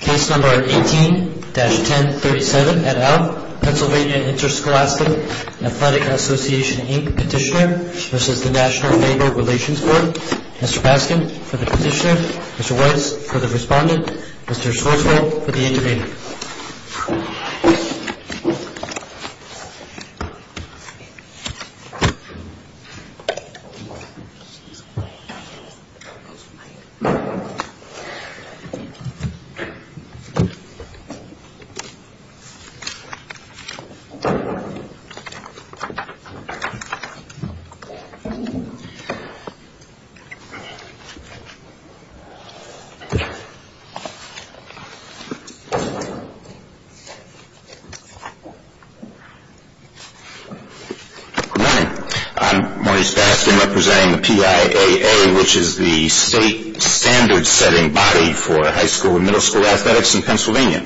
Case number 18-1037 et al. Pennsylvania Interscholastic Athletic Association, Inc. Petitioner versus the National Labor Relations Board. Mr. Baskin for the petitioner. Mr. Weiss for the respondent. Mr. Schwarzfeld for the intervener. I'm Maurice Baskin representing the PIAA, which is the state standards setting body for high school and middle school athletics in Pennsylvania.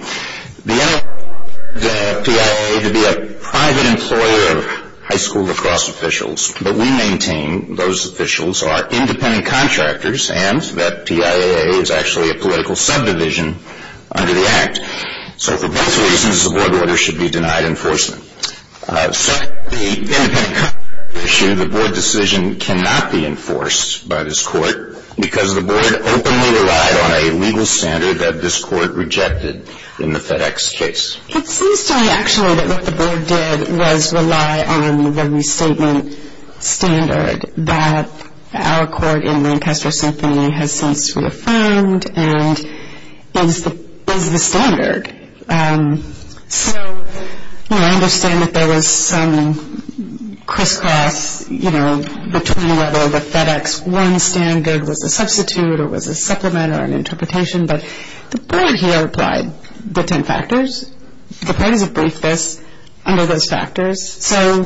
The NLRB requires the PIAA to be a private employer of high school lacrosse officials, but we maintain those officials are independent contractors and that PIAA is actually a political subdivision under the Act. So for both reasons, the board order should be denied enforcement. Second, the independent contractors issue, the board decision cannot be enforced by this legal standard that this court rejected in the FedEx case. It seems to me actually that what the board did was rely on the restatement standard that our court in Manchester Symphony has since reaffirmed and is the standard. So, you know, I understand that there was some crisscross, you know, between whether the FedEx 1 standard was a substitute or was a supplement or an interpretation, but the board here applied the 10 factors. The parties have briefed this under those factors. So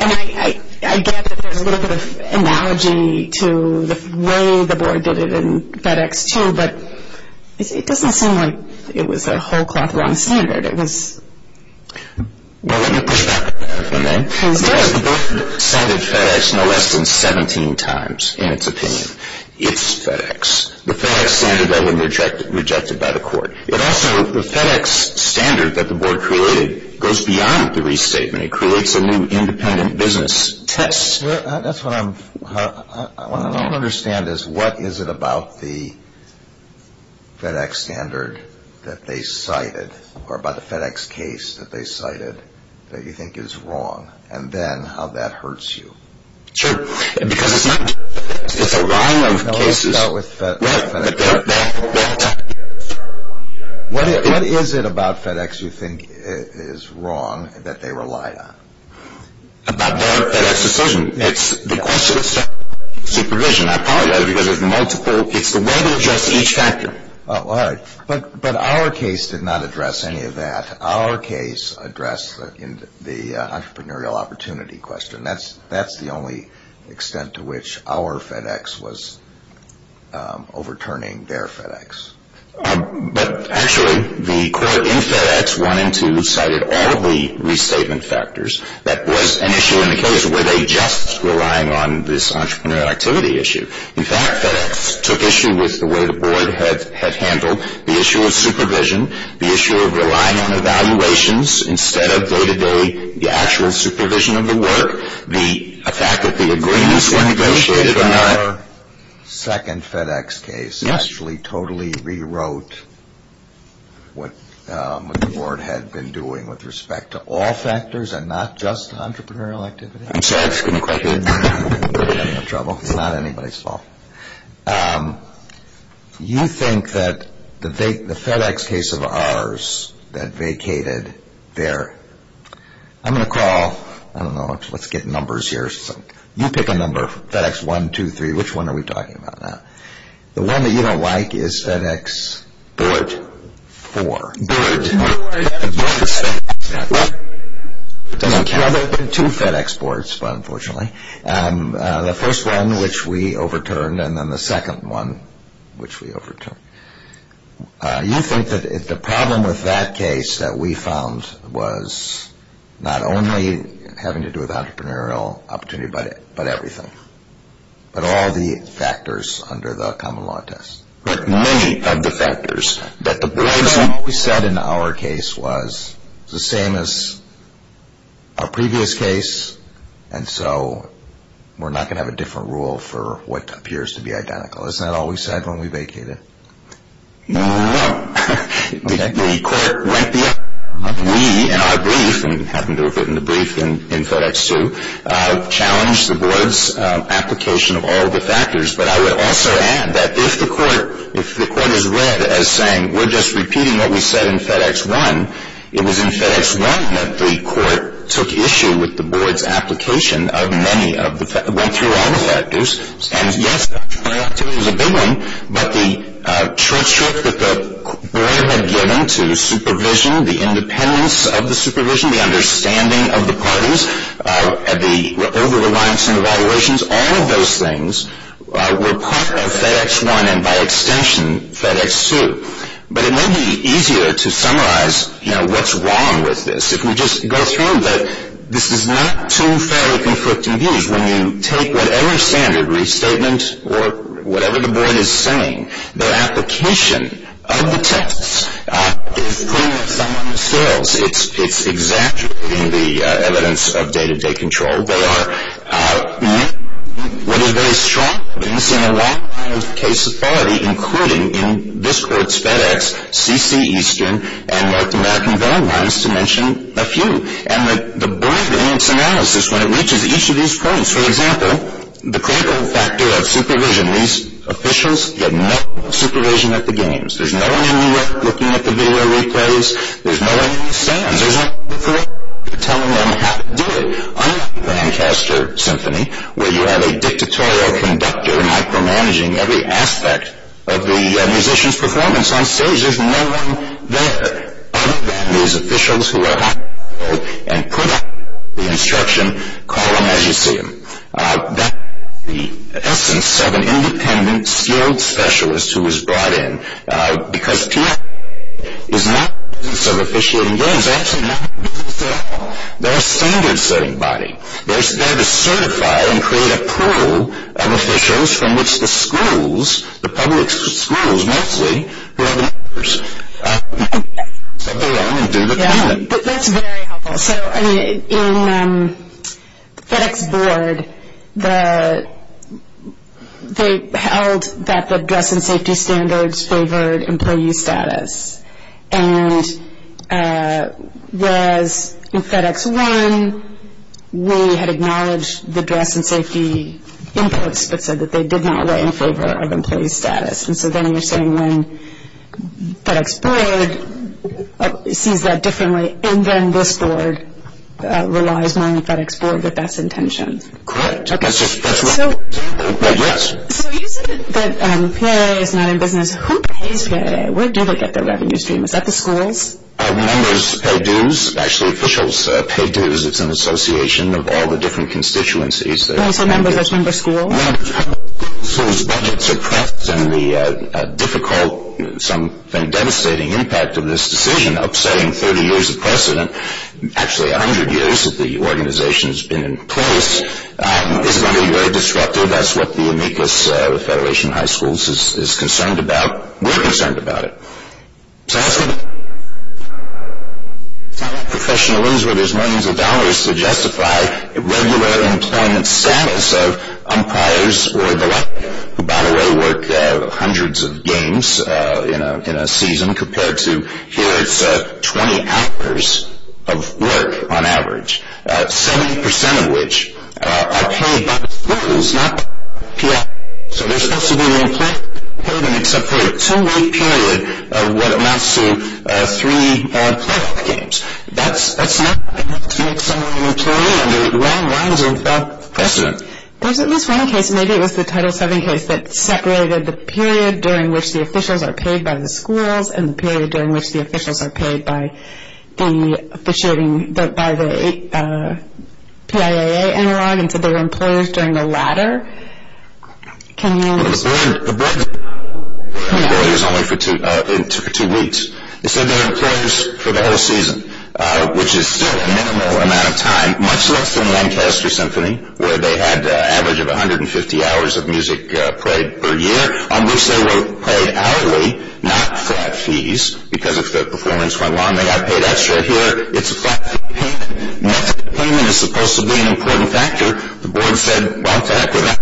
I get that there's a little bit of analogy to the way the board did it in FedEx 2, but it doesn't seem like it was a whole-cloth wrong standard. Well, let me push back on that. The board cited FedEx no less than 17 times in its opinion. It's FedEx. The FedEx standard that was rejected by the court. But also the FedEx standard that the board created goes beyond the restatement. It creates a new independent business test. That's what I don't understand is what is it about the FedEx standard that they cited or about the FedEx case that they cited that you think is wrong and then how that hurts you. Sure. Because it's not just a line of cases. No, let's start with FedEx. What is it about FedEx you think is wrong that they relied on? About their FedEx decision. It's the question of supervision, I apologize, because it's multiple. It's the way they address each factor. Oh, all right. But our case did not address any of that. Our case addressed the entrepreneurial opportunity question. That's the only extent to which our FedEx was overturning their FedEx. But actually the court in FedEx 1 and 2 cited all of the restatement factors. That was an issue in the case. Were they just relying on this entrepreneurial activity issue? In fact, FedEx took issue with the way the board had handled the issue of supervision, the issue of relying on evaluations instead of day-to-day actual supervision of the work, the fact that the agreements were negotiated or not. Our second FedEx case actually totally rewrote what the board had been doing with respect to all factors and not just entrepreneurial activity. I'm sorry, I just couldn't quite hear you. I'm having trouble. It's not anybody's fault. You think that the FedEx case of ours that vacated there, I'm going to call, I don't know, let's get numbers here. You pick a number, FedEx 1, 2, 3. Which one are we talking about now? The one that you don't like is FedEx 4. It doesn't count. There have been two FedEx boards, unfortunately. The first one, which we overturned, and then the second one, which we overturned. You think that the problem with that case that we found was not only having to do with entrepreneurial opportunity but everything, but all the factors under the common law test. But many of the factors that the boards. What we said in our case was the same as our previous case, and so we're not going to have a different rule for what appears to be identical. Isn't that all we said when we vacated? No. The court went beyond that. We, in our brief, and we happened to have written the brief in FedEx 2, challenged the board's application of all the factors. But I would also add that if the court is read as saying, we're just repeating what we said in FedEx 1, it was in FedEx 1 that the court took issue with the board's application of many of the factors. It went through all the factors. And, yes, it was a big one, but the trick that the board had given to supervision, the independence of the supervision, the understanding of the parties, the over-reliance on evaluations, all of those things were part of FedEx 1 and, by extension, FedEx 2. But it may be easier to summarize what's wrong with this if we just go through. But this is not two fairly conflicting views. When you take whatever standard restatement or whatever the board is saying, their application of the tests is putting up some on the scales. It's exaggerating the evidence of day-to-day control. They are making what is very strong evidence in a lot of cases already, including in this court's FedEx CC Eastern and North American guidelines, to mention a few. And the board, in its analysis, when it reaches each of these points, for example, the critical factor of supervision. These officials get no supervision at the games. There's no one in New York looking at the video replays. There's no one at the stands. There's no one telling them how to do it. Unlike the Lancaster Symphony, where you have a dictatorial conductor micromanaging every aspect of the musician's performance on stage, there's no one there. These officials who are having trouble and put up the instruction column as you see them. That's the essence of an independent, skilled specialist who is brought in. Because TIA is not in the business of officiating games. It's actually not in the business at all. They're a standard-setting body. They're there to certify and create a pool of officials from which the schools, the public schools mostly, who are the leaders. So I'm going to do the talking. That's very helpful. So, I mean, in the FedEx board, they held that the dress and safety standards favored employee status. And whereas in FedEx 1, we had acknowledged the dress and safety inputs, but said that they did not weigh in favor of employee status. And so then you're saying when FedEx board sees that differently, and then this board relies more on the FedEx board with that intention. Correct. That's right. Yes. So you said that PAA is not in business. Who pays PAA? Where do they get their revenue stream? Is that the schools? Members pay dues. Actually, officials pay dues. It's an association of all the different constituencies. So members. Which members? Schools? Members. Schools. Budgets are correct. And the difficult, some devastating impact of this decision upsetting 30 years of precedent, actually 100 years that the organization has been in place, is going to be very disruptive. That's what the amicus of the Federation of High Schools is concerned about. We're concerned about it. Professionals, where there's millions of dollars to justify regular employment status of umpires or the like who, by the way, work hundreds of games in a season compared to here, it's 20 hours of work on average, 70% of which are paid by the schools, not PAA. So there's supposed to be no pay them except for a two-week period of what amounts to three playoff games. That's not enough to make some money materially under the wrong lines of precedent. There's at least one case, maybe it was the Title VII case, that separated the period during which the officials are paid by the schools and the period during which the officials are paid by the PAA analog into their employers during the latter. Can you answer that? The board is only for two weeks. They said their employers for the whole season, which is still a minimal amount of time, much less than Lancaster Symphony, where they had an average of 150 hours of music played per year, on which they were paid hourly, not flat fees, because if their performance went wrong, they got paid extra here. It's a fact that net employment is supposed to be an important factor. The board said, what the heck, we're not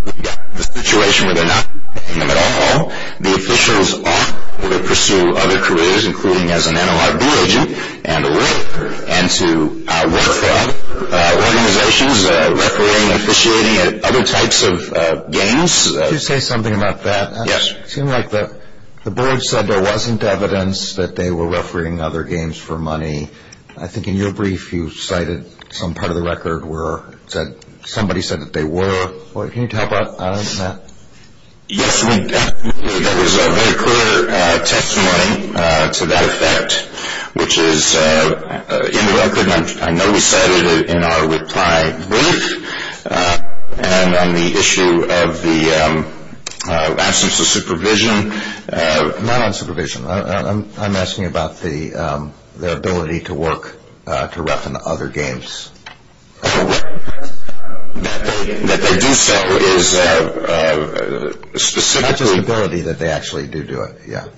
in the situation where they're not paying them at all. The officials ought to pursue other careers, including as an NLRB agent and a lawyer, and to work for organizations refereeing and officiating at other types of games. Could you say something about that? Yes. It seemed like the board said there wasn't evidence that they were refereeing other games for money. I think in your brief you cited some part of the record where somebody said that they were. Can you talk about that? Yes, there was a very clear testimony to that effect, which is in the record. I know we cited it in our reply brief, and on the issue of the absence of supervision. Not on supervision. I'm asking about their ability to work to ref in other games. That they do so is a specific... That's an ability that they actually do do it, yes.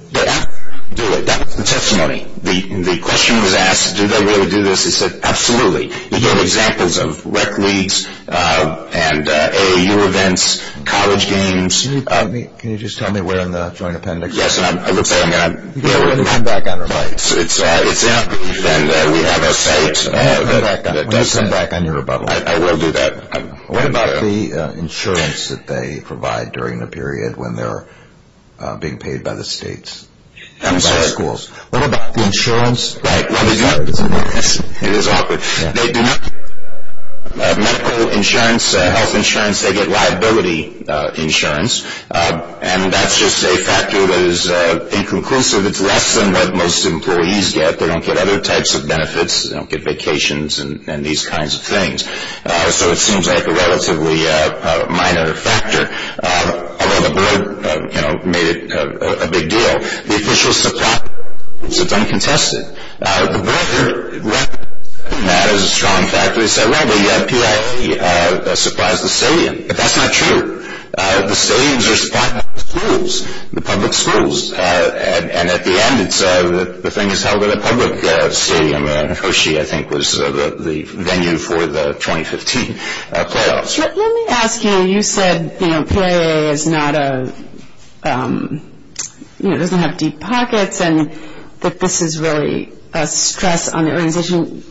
Do it, that's the testimony. The question was asked, do they really do this? They said, absolutely. You have examples of rec leagues and AAU events, college games. Can you just tell me where in the joint appendix... Yes, and I'm... We'll come back on our bite. It's there, and we have our site. We'll come back on your rebuttal. I will do that. What about the insurance that they provide during the period when they're being paid by the states? I'm sorry? What about the insurance? It is awkward. They do not get medical insurance, health insurance. They get liability insurance, and that's just a factor that is inconclusive. It's less than what most employees get. They don't get other types of benefits. They don't get vacations and these kinds of things. So it seems like a relatively minor factor, although the board made it a big deal. The official supply is uncontested. The board heard that as a strong factor. They said, well, the PIA supplies the stadium, but that's not true. The stadiums are supplied by the schools, the public schools, and at the end the thing is held at a public stadium, and Hoshi, I think, was the venue for the 2015 playoffs. Let me ask you, you said the PIA doesn't have deep pockets and that this is really a stress on the organization.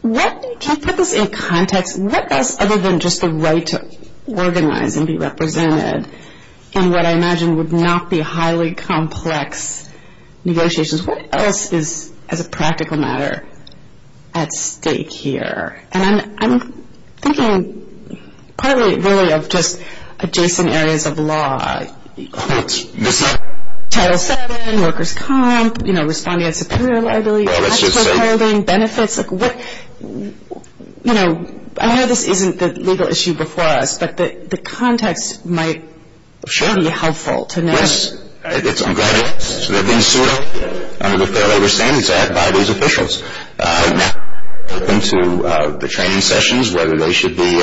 Can you put this in context? What else other than just the right to organize and be represented in what I imagine would not be highly complex negotiations, what else is, as a practical matter, at stake here? And I'm thinking partly really of just adjacent areas of law. Title VII, workers' comp, responding to superior liability, tax withholding, benefits. I know this isn't the legal issue before us, but the context might be helpful to know. Yes, I'm glad it's been suited under the Fair Labor Standards Act by these officials. Into the training sessions, whether they should be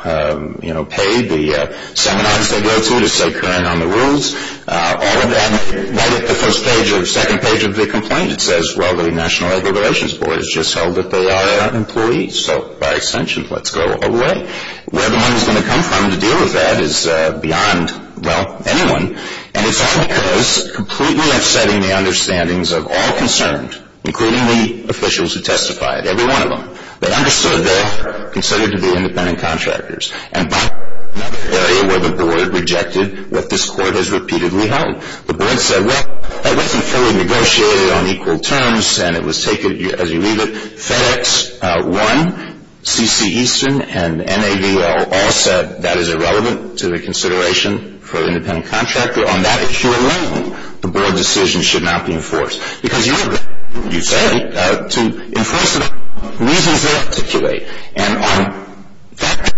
paid, the seminars they go to to stay current on the rules, all of that. Right at the second page of the complaint it says, well, the National Labor Relations Board has just held that they are employees. So, by extension, let's go all the way. Where the money is going to come from to deal with that is beyond, well, anyone. And it's all because completely upsetting the understandings of all concerned, including the officials who testified, every one of them. They understood they're considered to be independent contractors. And by the area where the board rejected what this court has repeatedly held, the board said, well, that wasn't fully negotiated on equal terms, and it was taken, as you read it, FedEx I, C.C. Eastern, and NAVL all said, that is irrelevant to the consideration for the independent contractor. On that acute level, the board decision should not be enforced. Because you have the right, you say, to enforce it on reasons they articulate. And on that,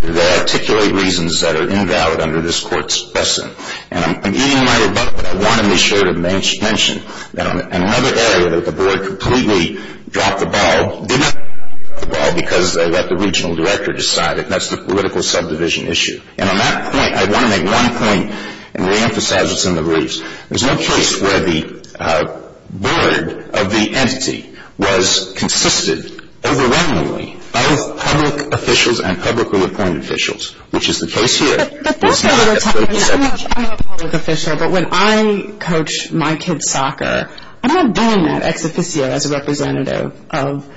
they articulate reasons that are invalid under this court's blessing. And even in my rebuttal, I want to be sure to mention that on another area that the board completely dropped the ball, did not drop the ball because they let the regional director decide, and that's the political subdivision issue. And on that point, I want to make one point and reemphasize what's in the rules. There's no case where the board of the entity was consistent overwhelmingly of public officials and public rule-of-point officials, which is the case here. But that's what we're talking about. I'm a public official, but when I coach my kids' soccer, I'm not doing that ex officio as a representative of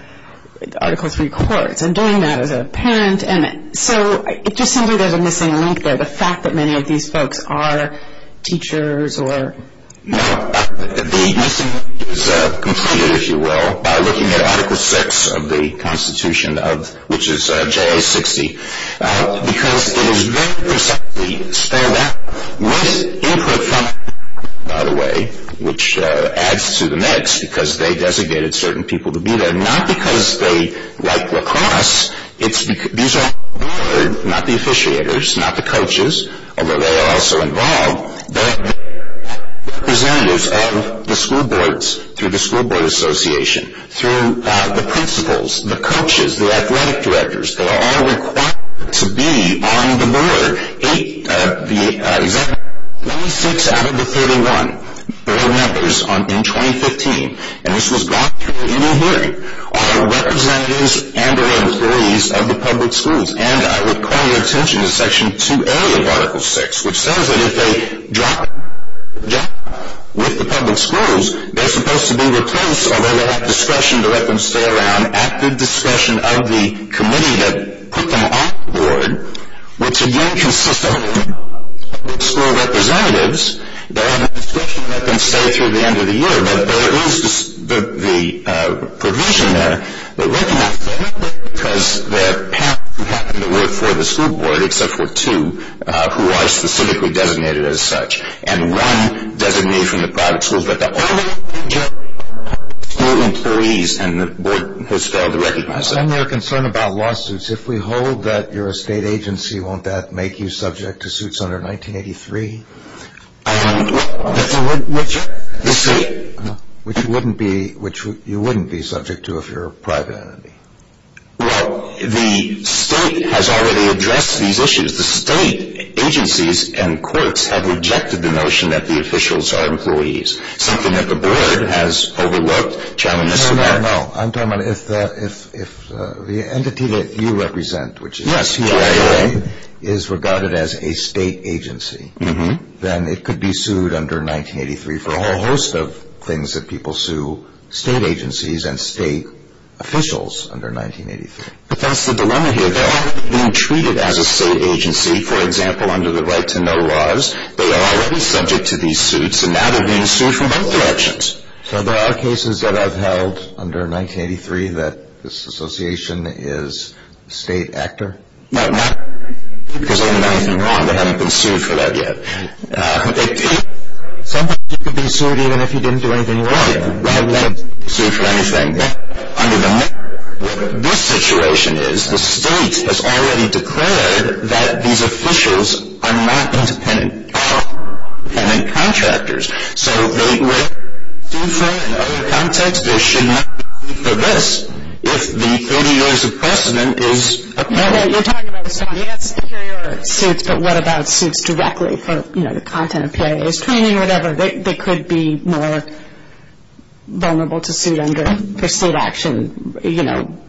Article III courts. I'm doing that as a parent. And so it just seems like there's a missing link there, the fact that many of these folks are teachers or... No, the missing link is completed, if you will, by looking at Article VI of the Constitution, which is JA 60, because it is very precisely spelled out with input from the board, by the way, which adds to the mix because they designated certain people to be there, not because they like lacrosse. These are not the officiators, not the coaches, although they are also involved. They are representatives of the school boards through the School Board Association, through the principals, the coaches, the athletic directors. They are all required to be on the board. Eight of the... 96 out of the 31 board members in 2015, and this was brought to your email hearing, are representatives and are employees of the public schools. And I would call your attention to Section 2A of Article VI, which says that if they drop out with the public schools, they're supposed to be replaced, although they have discretion to let them stay around, at the discretion of the committee that put them on the board, which, again, consists of public school representatives. They have the discretion to let them stay through the end of the year, but there is the provision there that recognizes them because they're parents who happen to work for the school board, except for two who are specifically designated as such. And one designated from the private schools, but the other two employees and the board has failed to recognize them. I understand your concern about lawsuits. If we hold that you're a state agency, won't that make you subject to suits under 1983? The state? Which you wouldn't be subject to if you're a private entity. Well, the state has already addressed these issues. The state agencies and courts have rejected the notion that the officials are employees, something that the board has overlooked, challenged the board. No, no, no. I'm talking about if the entity that you represent, which is UIA, is regarded as a state agency, then it could be sued under 1983 for a whole host of things that people sue state agencies and state officials under 1983. But that's the dilemma here. They're not being treated as a state agency, for example, under the Right to Know laws. They are already subject to these suits, and now they're being sued from both directions. So there are cases that I've held under 1983 that this association is a state actor? No, not because they didn't do anything wrong. They haven't been sued for that yet. Sometimes you could be sued even if you didn't do anything wrong. Right, right. They haven't been sued for anything. This situation is the state has already declared that these officials are not independent contractors. So they would be sued for that in other contexts. They should not be sued for this if the 30 years of precedent is upheld. You're talking about the state has superior suits, but what about suits directly for the content of PIA's training or whatever? They could be more vulnerable to suit under the state action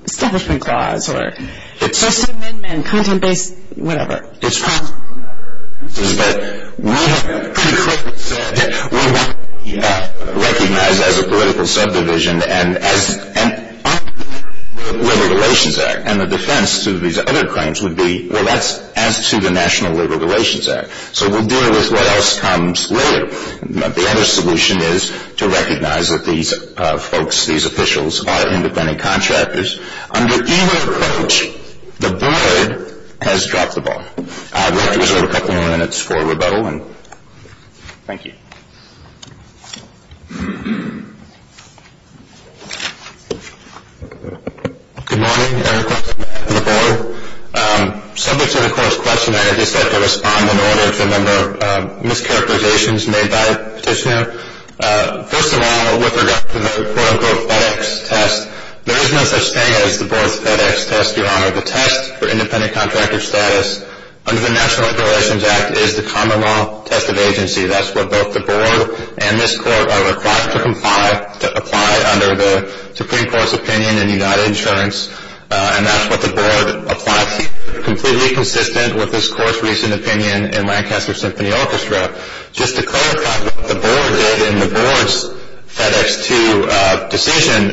establishment clause or first amendment, content-based, whatever. It's fine. It's just that we recognize as a political subdivision and as under the Labor Relations Act and the defense to these other claims would be, well, that's as to the National Labor Relations Act. So we'll deal with what else comes later. The other solution is to recognize that these folks, these officials, are independent contractors. Under either approach, the board has dropped the ball. We have to reserve a couple more minutes for rebuttal. Thank you. Good morning. I have a question for the board. Subject to the court's questionnaire, I'd just like to respond in order to a number of mischaracterizations made by the petitioner. First of all, with regard to the quote-unquote FedEx test, there is no such thing as the board's FedEx test, Your Honor. The test for independent contractor status under the National Labor Relations Act is the common law test of agency. That's what both the board and this court are required to comply, to apply under the Supreme Court's opinion in United Insurance, and that's what the board applies to, completely consistent with this court's recent opinion in Lancaster Symphony Orchestra. Just to clarify what the board did in the board's FedEx 2 decision,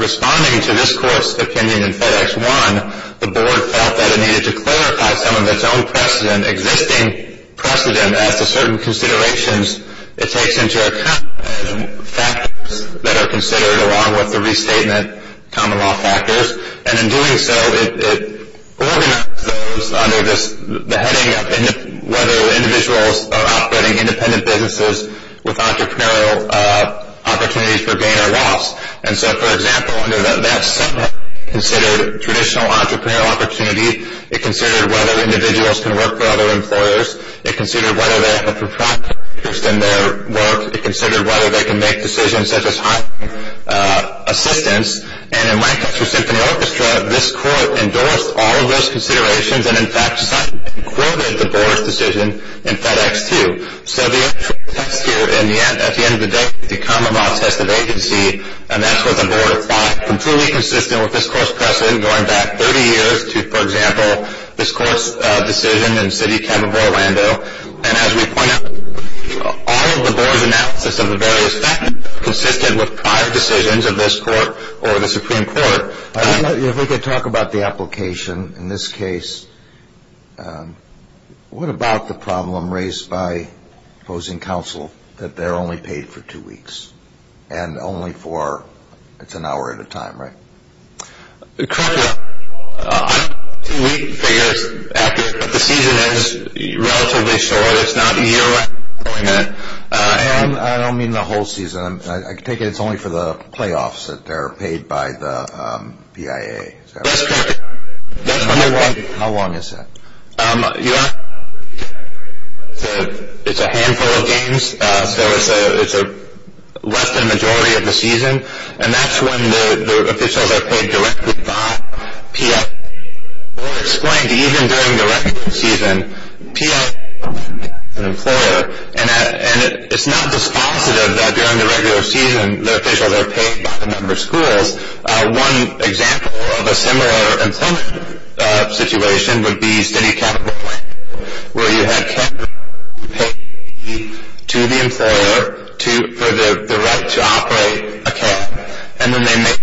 responding to this court's opinion in FedEx 1, the board felt that it needed to clarify some of its own precedent, existing precedent as to certain considerations it takes into account, factors that are considered along with the restatement common law factors, and in doing so, it organized those under the heading of whether individuals are operating independent businesses with entrepreneurial opportunities for gain or loss. And so, for example, under that sentiment, it considered traditional entrepreneurial opportunity, it considered whether individuals can work for other employers, it considered whether they have a protracted interest in their work, it considered whether they can make decisions such as hiring assistants, and in Lancaster Symphony Orchestra, this court endorsed all of those considerations and, in fact, cited and quoted the board's decision in FedEx 2. So, the actual text here at the end of the day is the common law test of agency, and that's what the board thought, completely consistent with this court's precedent going back 30 years to, for example, this court's decision in City Camp of Orlando, and as we point out, all of the board's analysis of the various factors has been consistent with prior decisions of this court or the Supreme Court. If we could talk about the application in this case, what about the problem raised by opposing counsel that they're only paid for two weeks and only for, it's an hour at a time, right? Correct. We figure the season is relatively short. It's not a year long. And I don't mean the whole season. I take it it's only for the playoffs that they're paid by the PIA. That's correct. How long is that? It's a handful of games, so it's less than the majority of the season, and that's when the officials are paid directly by PIA. Well, it's going to be even during the regular season. PIA is an employer, and it's not dispositive that during the regular season, the officials are paid by a number of schools. One example of a similar employment situation would be City Camp of Orlando, where you had campers paid to the employer for the right to operate a camp, and then they make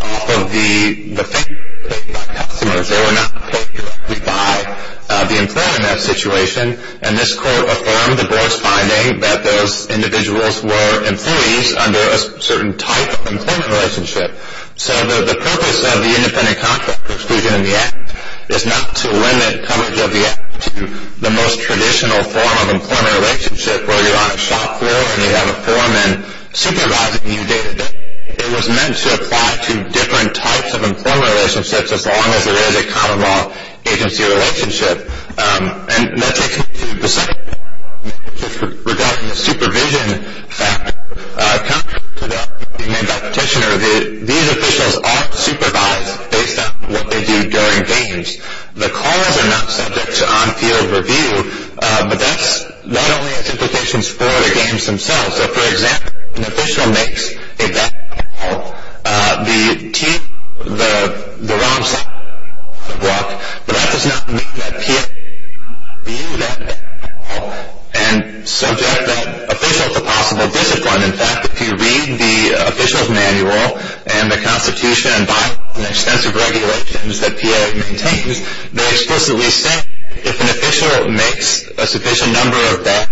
all of the things paid by customers. They were not paid directly by the employer in that situation, and this court affirmed the board's finding that those individuals were employees under a certain type of employment relationship. So the purpose of the independent contract exclusion in the act is not to limit coverage of the act to the most traditional form of employment relationship where you're on a shop floor and you have a foreman supervising you day-to-day. It was meant to apply to different types of employment relationships as long as there is a common law agency relationship. And that takes me to the second point, which is regarding the supervision factor. Contrary to the act, these officials are supervised based on what they do during games. The calls are not subject to on-field review, but that not only has implications for the games themselves. If, for example, an official makes a bad call, the team, the ROMs have to walk, but that does not mean that PA can't review that bad call and subject that official to possible discipline. In fact, if you read the official's manual and the Constitution and by the extensive regulations that PA maintains, they explicitly say if an official makes a sufficient number of bad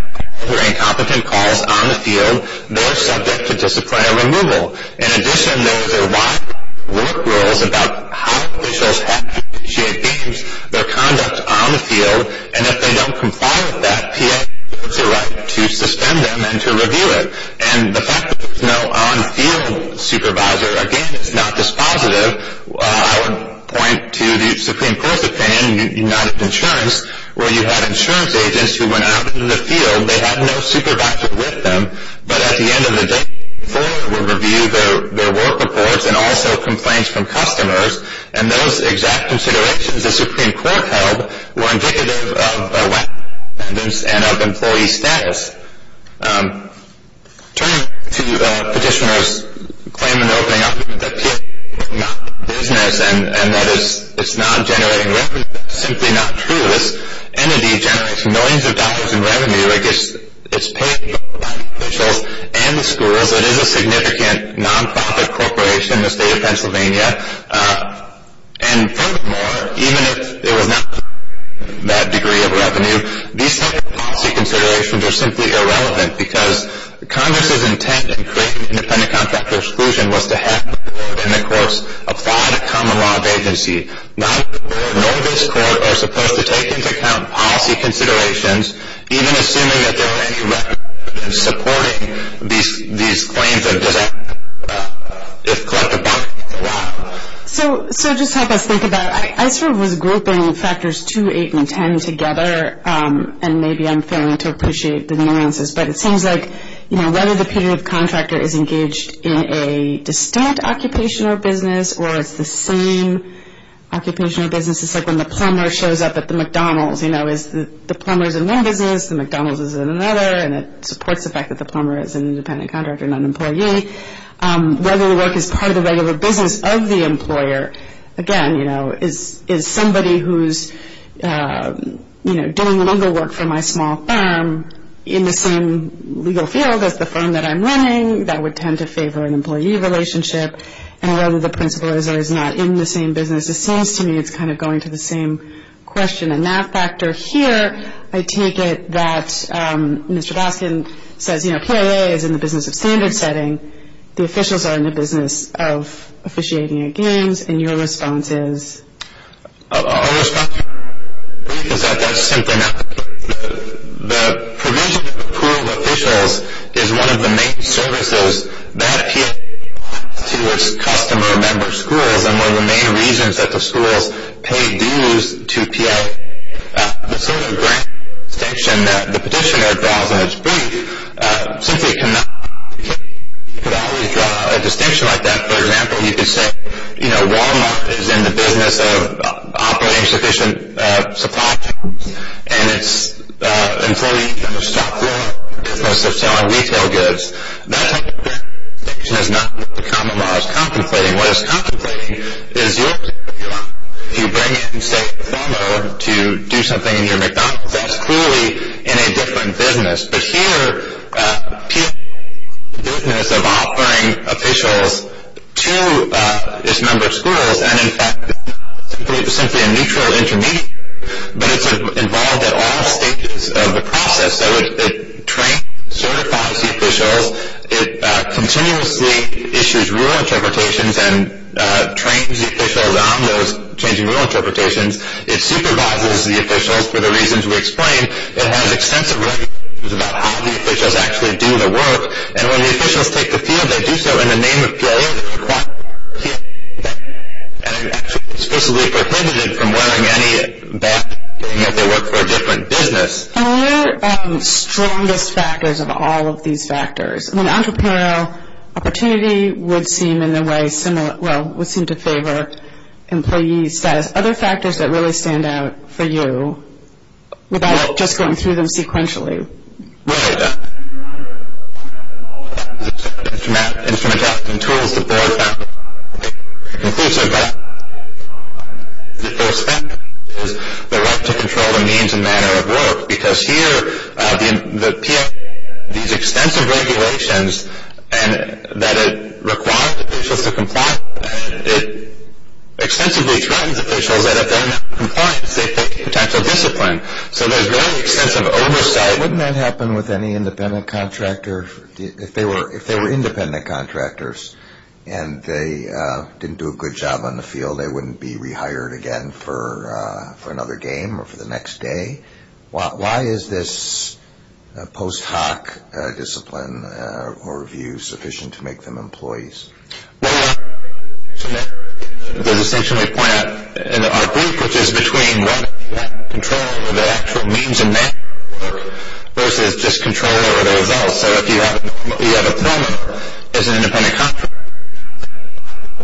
or incompetent calls on the field, they're subject to disciplinary removal. In addition, there's a lot of work rules about how officials have to judge games, their conduct on the field, and if they don't comply with that, PA has a right to suspend them and to review it. And the fact that there's no on-field supervisor, again, is not dispositive. I would point to the Supreme Court's opinion, United Insurance, where you had insurance agents who went out into the field, they had no supervisor with them, but at the end of the day, the court would review their work reports and also complaints from customers, and those exact considerations the Supreme Court held were indicative of a lack of independence and of employee status. Turning to Petitioner's claim in opening up that PA is not the business and that it's not generating revenue, that's simply not true. This entity generates millions of dollars in revenue. It's paid for by the officials and the schools. It is a significant non-profit corporation in the state of Pennsylvania, and furthermore, even if it was not generating that degree of revenue, these types of policy considerations are simply irrelevant because Congress's intent in creating independent contractor exclusion was to have independent courts apply to common law vacancy. Neither court nor this court are supposed to take into account policy considerations, even assuming that there are any records supporting these claims of disaster if collective bargaining is allowed. So just help us think about it. I sort of was grouping factors 2, 8, and 10 together, and maybe I'm failing to appreciate the nuances, but it seems like, you know, whether the period of contractor is engaged in a distant occupation or business or it's the same occupation or business, it's like when the plumber shows up at the McDonald's, you know, the plumber is in one business, the McDonald's is in another, and it supports the fact that the plumber is an independent contractor, not an employee. Whether the work is part of the regular business of the employer, again, you know, is somebody who's, you know, doing longer work for my small firm in the same legal field as the firm that I'm running that would tend to favor an employee relationship, and whether the principal is or is not in the same business, it seems to me it's kind of going to the same question. And then that factor here, I take it that Mr. Baskin says, you know, PIA is in the business of standard setting, the officials are in the business of officiating at games, and your response is? Our response is that that's simply not the case. The provision of approved officials is one of the main services that PIA provides to its customer member schools, and one of the main reasons that the schools pay dues to PIA. The sort of distinction that the petitioner draws in its brief simply cannot be drawn. A distinction like that, for example, you could say, you know, Walmart is in the business of operating sufficient supply chains, and its employees are going to stop doing it because they're selling retail goods. That type of distinction is not what the common law is contemplating. What it's contemplating is if you bring in, say, a farmer to do something in your McDonald's, that's clearly in a different business. But here, PIA is in the business of offering officials to its member schools, and in fact it's simply a neutral intermediary, but it's involved at all stages of the process. So it trains, certifies the officials. It continuously issues rule interpretations and trains the officials on those changing rule interpretations. It supervises the officials for the reasons we explained. It has extensive regulations about how the officials actually do the work, and when the officials take the field, they do so in the name of PIA, and it actually explicitly prohibits it from wearing any backpack even if they work for a different business. And what are the strongest factors of all of these factors? I mean, entrepreneurial opportunity would seem in a way similar, well, would seem to favor employee status. Other factors that really stand out for you without just going through them sequentially? Right. Instrumentation and tools to support them. It includes their background. The first factor is their right to control their means and manner of work, because here the PIA, these extensive regulations that it requires officials to comply with, it extensively threatens officials that if they're not compliant, they take a potential discipline. So there's very extensive oversight. Wouldn't that happen with any independent contractor? If they were independent contractors and they didn't do a good job on the field, they wouldn't be rehired again for another game or for the next day. Why is this post hoc discipline or review sufficient to make them employees? Well, the distinction we point out in our brief, which is between what control of the actual means and manner of work versus just control over the results. So if you have a plumber as an independent contractor,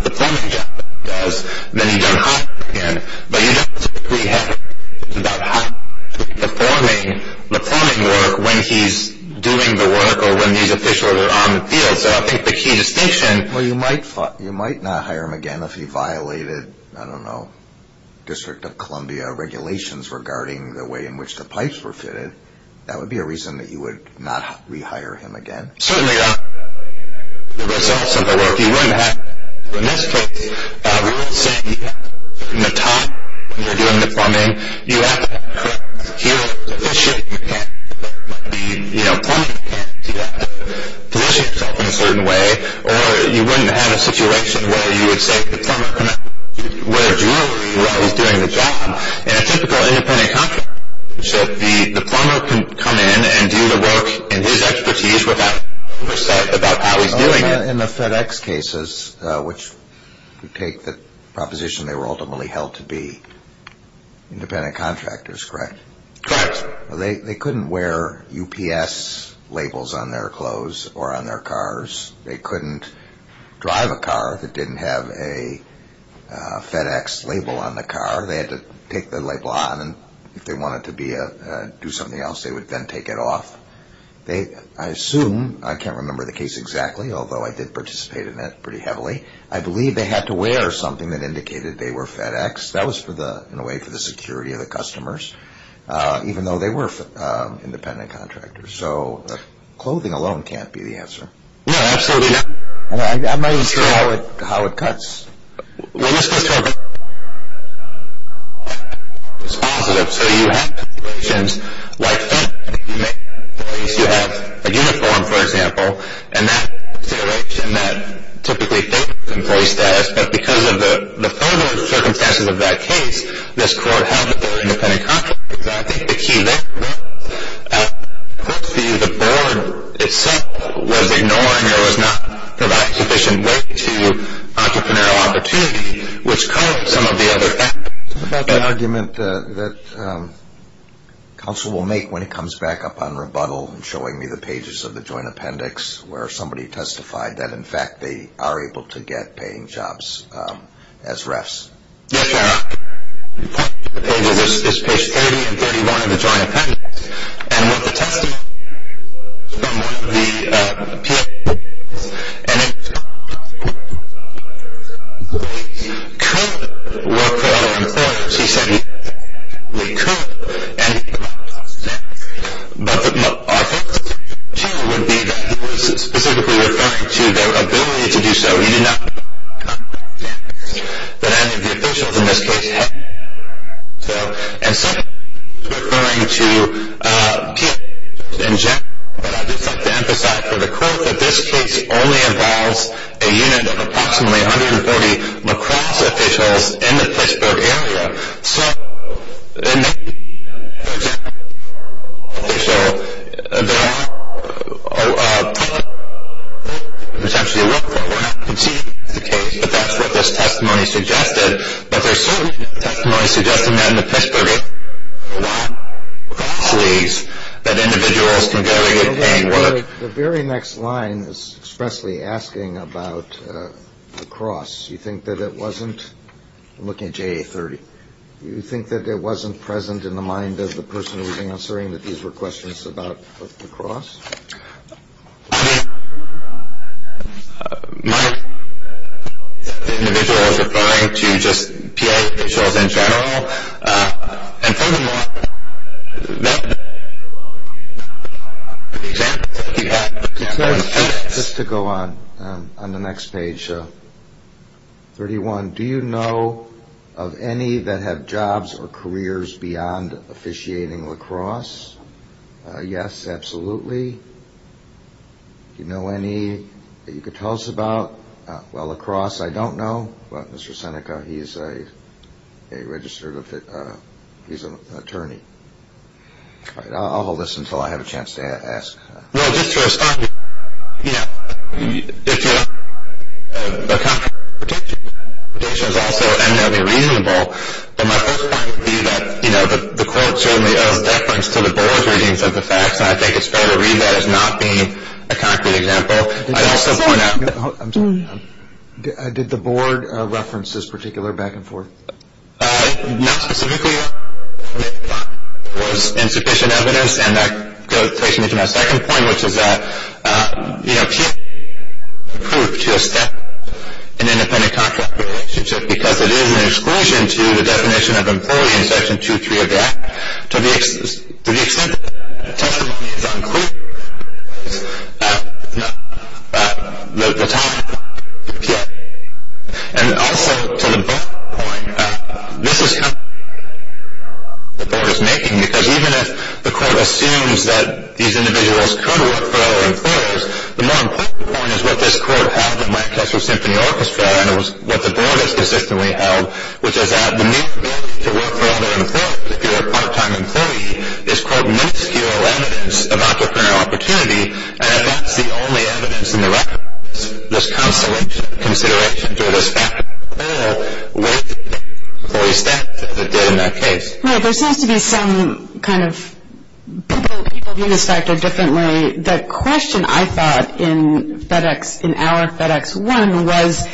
the plumbing job he does, then he's rehired again. But you don't have to be rehired about how he's performing the plumbing work when he's doing the work or when these officials are on the field. Well, you might not hire him again if he violated, I don't know, District of Columbia regulations regarding the way in which the pipes were fitted. That would be a reason that you would not rehire him again. Certainly on the results of the work, you wouldn't have to. In this case, we're not saying you have to be at the top when you're doing the plumbing. You have to have a correct, secure position. You can't be, you know, plumbing. You can't position yourself in a certain way, or you wouldn't have a situation where you would say the plumber couldn't wear jewelry while he's doing the job. In a typical independent contractor, so the plumber can come in and do the work in his expertise without being upset about how he's doing it. In the FedEx cases, which you take the proposition they were ultimately held to be independent contractors, correct? Correct. They couldn't wear UPS labels on their clothes or on their cars. They couldn't drive a car that didn't have a FedEx label on the car. They had to take the label on, and if they wanted to do something else, they would then take it off. I assume, I can't remember the case exactly, although I did participate in it pretty heavily, I believe they had to wear something that indicated they were FedEx. That was in a way for the security of the customers, even though they were independent contractors. So clothing alone can't be the answer. No, absolutely not. I'm not even sure how it cuts. When this goes to a vendor, it's positive. So you have situations like that. You may have employees who have a uniform, for example, and that's a situation that typically affects employee status, but because of the further circumstances of that case, this court held that they were independent contractors. I think the key there was that the board itself was ignoring the fact that entrepreneur was not providing sufficient way to entrepreneurial opportunity, which covered some of the other aspects. What about the argument that counsel will make when it comes back up on rebuttal and showing me the pages of the joint appendix where somebody testified that, in fact, they are able to get paying jobs as refs? Yes, Your Honor. The pages is page 30 and 31 of the joint appendix, and with the testimony from the appeal, and it couldn't work out in court. She said it couldn't, and what I think, too, would be that he was specifically referring to their ability to do so. He did not, but I think the officials in this case have. So, in some cases, he's referring to people in general, but I just want to emphasize for the court that this case only involves a unit of approximately 140 La Crosse officials in the Pittsburgh area. So, in that case, for example, there are a lot of people who are not conceding the case, but that's what this testimony suggested. But there are certain testimonies suggesting that in the Pittsburgh area, there are a lot of employees that individuals can go in and work. The very next line is expressly asking about La Crosse. You think that it wasn't? I'm looking at JA30. You think that it wasn't present in the mind of the person who was answering that these were questions about La Crosse? I mean, the individual is referring to just PA officials in general, and furthermore, that's the example that you have. Just to go on, on the next page, 31, do you know of any that have jobs or careers beyond officiating La Crosse? Yes, absolutely. Do you know any that you could tell us about? Well, La Crosse, I don't know, but Mr. Seneca, he's a registered, he's an attorney. All right, I'll hold this until I have a chance to ask. No, just to respond, you know, if you're, the concrete prediction is also eminently reasonable, but my first point would be that, you know, the court certainly owes deference to the board's readings of the facts, and I think it's fair to read that as not being a concrete example. I'd also point out that- Did the board reference this particular back-and-forth? Not specifically. It was insufficient evidence, and that goes to my second point, which is that, you know, it can't be proved to a step in an independent contract relationship because it is an exclusion to the definition of employee in Section 2.3 of the Act. To the extent that the testimony is unclear, the time will appear. And also, to the board point, this is something the board is making, because even if the court assumes that these individuals could work for other employers, the more important point is what this court held in Lancaster Symphony Orchestra, and it was what the board has consistently held, which is that the need to work for other employers if you're a part-time employee is quite minuscule evidence of entrepreneurial opportunity, and that's the only evidence in the record of this consolidation of considerations or this fact of the law with the employee staff that did in that case. Well, there seems to be some kind of people view this factor differently. The question I thought in our FedEx 1 was,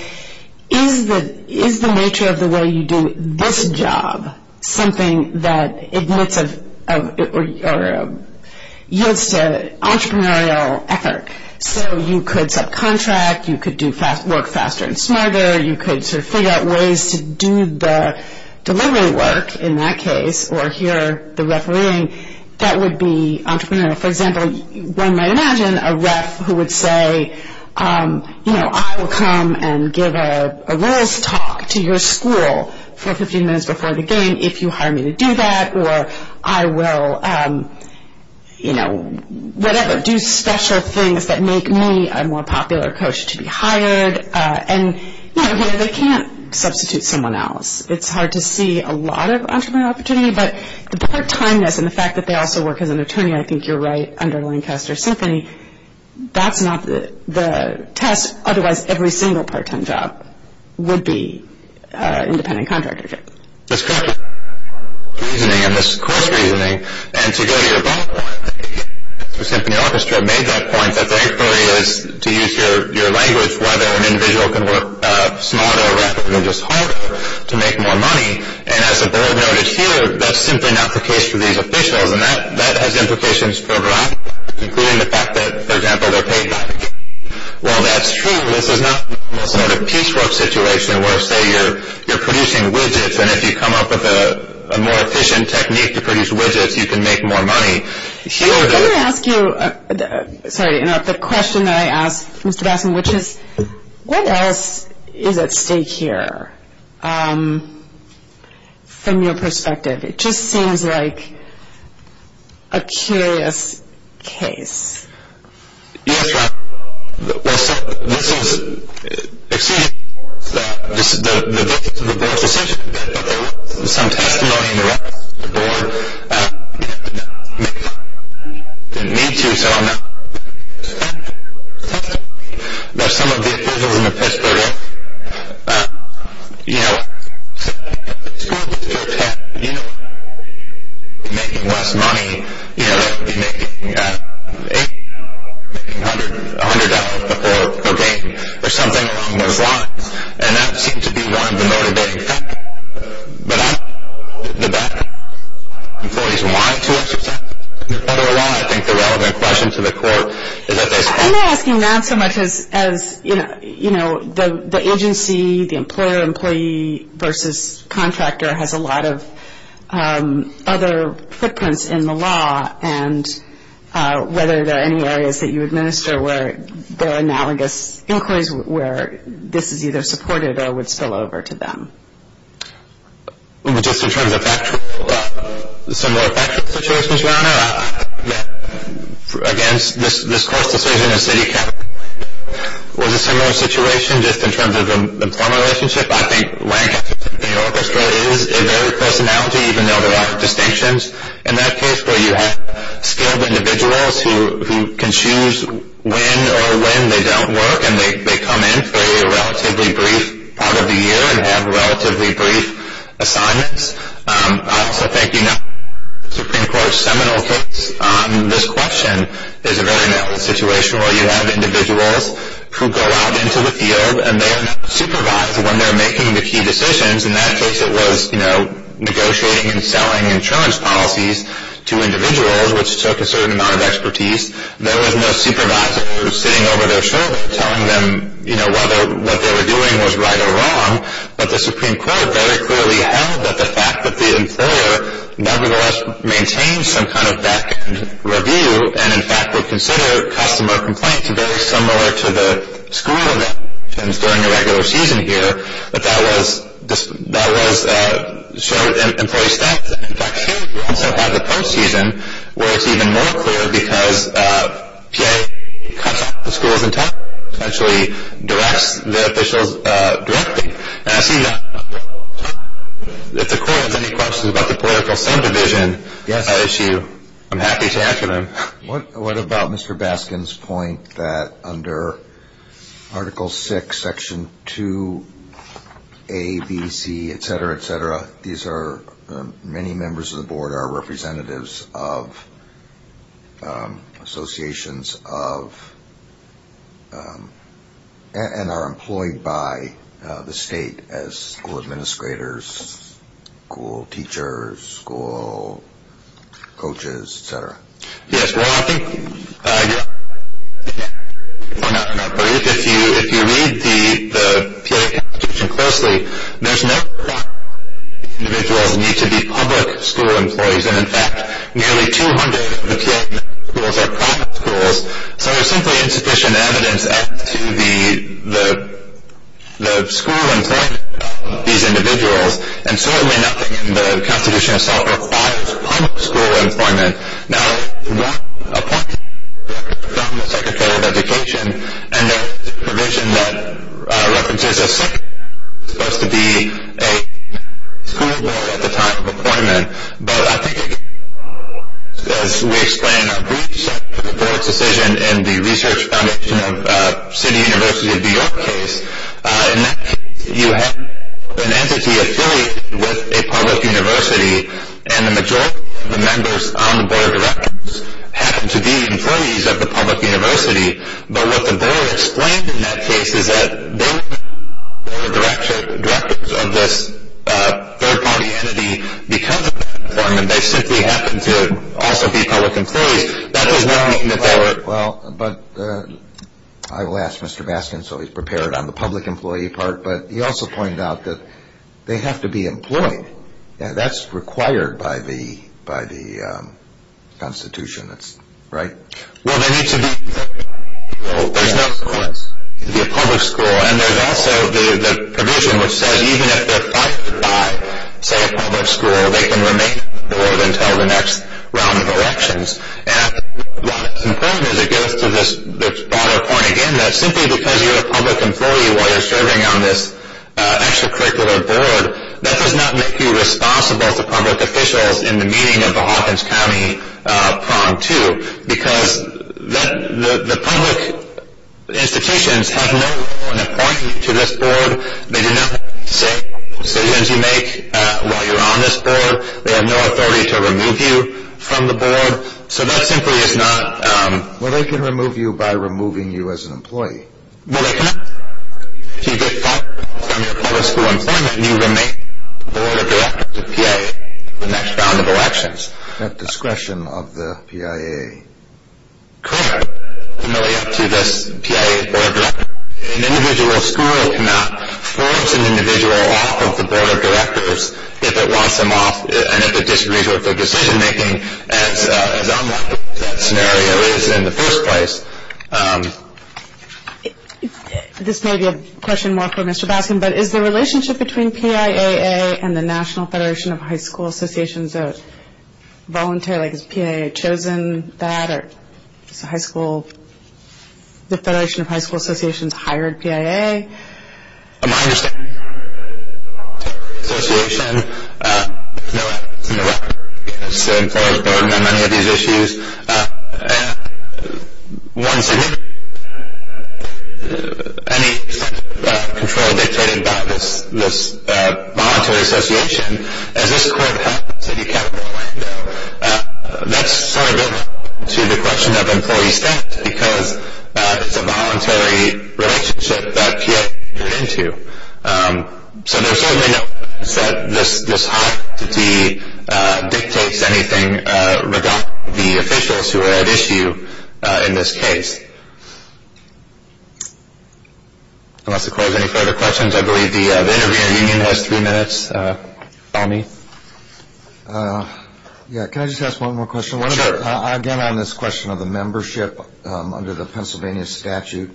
is the nature of the way you do this job something that yields to entrepreneurial effort? So you could subcontract, you could work faster and smarter, you could sort of figure out ways to do the delivery work in that case, or here, the refereeing, that would be entrepreneurial. For example, one might imagine a ref who would say, you know, I will come and give a rules talk to your school for 15 minutes before the game if you hire me to do that, or I will, you know, whatever, do special things that make me a more popular coach to be hired. And, you know, they can't substitute someone else. It's hard to see a lot of entrepreneurial opportunity, but the part-timeness and the fact that they also work as an attorney, I think you're right, under Lancaster Symphony, that's not the test. Otherwise, every single part-time job would be independent contractor. That's correct. And this course reasoning, and to go to your point, the symphony orchestra made that point that the inquiry is to use your language whether an individual can work smarter or rather than just harder to make more money. And as the board noted here, that's simply not the case for these officials, and that has implications for a lot, including the fact that, for example, they're paid higher. Well, that's true. This is not a piecework situation where, say, you're producing widgets, and if you come up with a more efficient technique to produce widgets, you can make more money. Let me ask you, sorry to interrupt, the question that I asked Mr. Bassam, which is what else is at stake here from your perspective? It just seems like a curious case. Yes, well, this is, excuse me, this is the victim of the board's decision, but there was some testimony in the record that the board didn't need to, so I'm not going to talk about some of the officials in the press program, you know, making less money, you know, making $100 a day or something along those lines, and that seemed to be one of the motivating factors. But I'm not going to go into the background of employees wanting to exercise their power of law. I think the relevant question to the court is at this point. I'm not asking that so much as, you know, the agency, the employer, employee versus contractor has a lot of other footprints in the law, and whether there are any areas that you administer where there are analogous inquiries where this is either supported or would spill over to them. Just in terms of similar factual situations, Your Honor, against this court's decision of city council, was a similar situation just in terms of the employment relationship. I think Lancaster, New York, Australia is a varied personality, even though there are distinctions. In that case where you have skilled individuals who can choose when or when they don't work and they come in for a relatively brief part of the year and have relatively brief assignments. So thank you, Your Honor. Supreme Court's seminal case on this question is a very similar situation where you have individuals who go out into the field and they're not supervised when they're making the key decisions. In that case it was, you know, negotiating and selling insurance policies to individuals, which took a certain amount of expertise. There was no supervisor sitting over their shoulder telling them, you know, whether what they were doing was right or wrong. But the Supreme Court very clearly held that the fact that the employer nevertheless maintained some kind of back-end review and, in fact, would consider customer complaints very similar to the school evictions during the regular season here, that that was, that was, showed employee staff that, in fact, here you also have the post-season where it's even more clear because PA cuts off the schools in time and actually directs the officials directly. And I see if the Court has any questions about the political sub-division issue, I'm happy to answer them. What about Mr. Baskin's point that under Article VI, Section 2A, B, C, etc., etc., these are many members of the board are representatives of associations of and are employed by the state as school administrators, school teachers, school coaches, etc. Yes, well, I think if you read the PA Constitution closely, there's no doubt that these individuals need to be public school employees and, in fact, nearly 200 of the PA schools are private schools. So there's simply insufficient evidence as to the school employment of these individuals and certainly nothing in the Constitution itself requires public school employment. Now, one point from the Secretary of Education, and that's the provision that references a school board at the time of appointment, but I think it goes to explain a brief section of the Court's decision in the Research Foundation of City University of New York case. In that case, you have an entity affiliated with a public university and the majority of the members on the board of directors happen to be employees of the public university, but what the board explained in that case is that they weren't members of the board of directors of this third-party entity because of their employment. They simply happened to also be public employees. That does not mean that they were— Well, but I will ask Mr. Baskin so he's prepared on the public employee part, but he also pointed out that they have to be employed. Yeah, that's required by the Constitution, right? Well, they need to be— There's no— It has to be a public school. It has to be a public school, and there's also the provision which says even if they're proctored by, say, a public school, they can remain on the board until the next round of elections. And I think what's important is it goes to this broader point again that simply because you're a public employee while you're serving on this extracurricular board, that does not make you responsible to public officials in the meaning of a Hawkins County prong, too, because the public institutions have no authority to this board. They do not have the same decisions you make while you're on this board. They have no authority to remove you from the board. So that simply is not— Well, they can remove you by removing you as an employee. Well, they cannot. If you get fired from your public school employment and you remain on the board of directors of the PIA for the next round of elections— At discretion of the PIA. Correct, familiar to this PIA board of directors. An individual school cannot force an individual off of the board of directors if it wants them off and if it disagrees with their decision-making as unlikely as that scenario is in the first place. This may be a question more for Mr. Baskin, but is the relationship between PIA and the National Federation of High School Associations voluntary? Has PIA chosen that or has the Federation of High School Associations hired PIA? My understanding is that the Federation of High School Associations is in the record because the employers burdened on many of these issues. Once again, any control dictated by this voluntary association, as this court happens in the capital window, that's sort of linked to the question of employee staff because it's a voluntary relationship that PIA is committed to. So there's certainly no evidence that this hostility dictates anything regarding the officials who are at issue in this case. Unless the court has any further questions, I believe the interviewer union has three minutes. Follow me. Can I just ask one more question? Sure. Again, on this question of the membership under the Pennsylvania statute,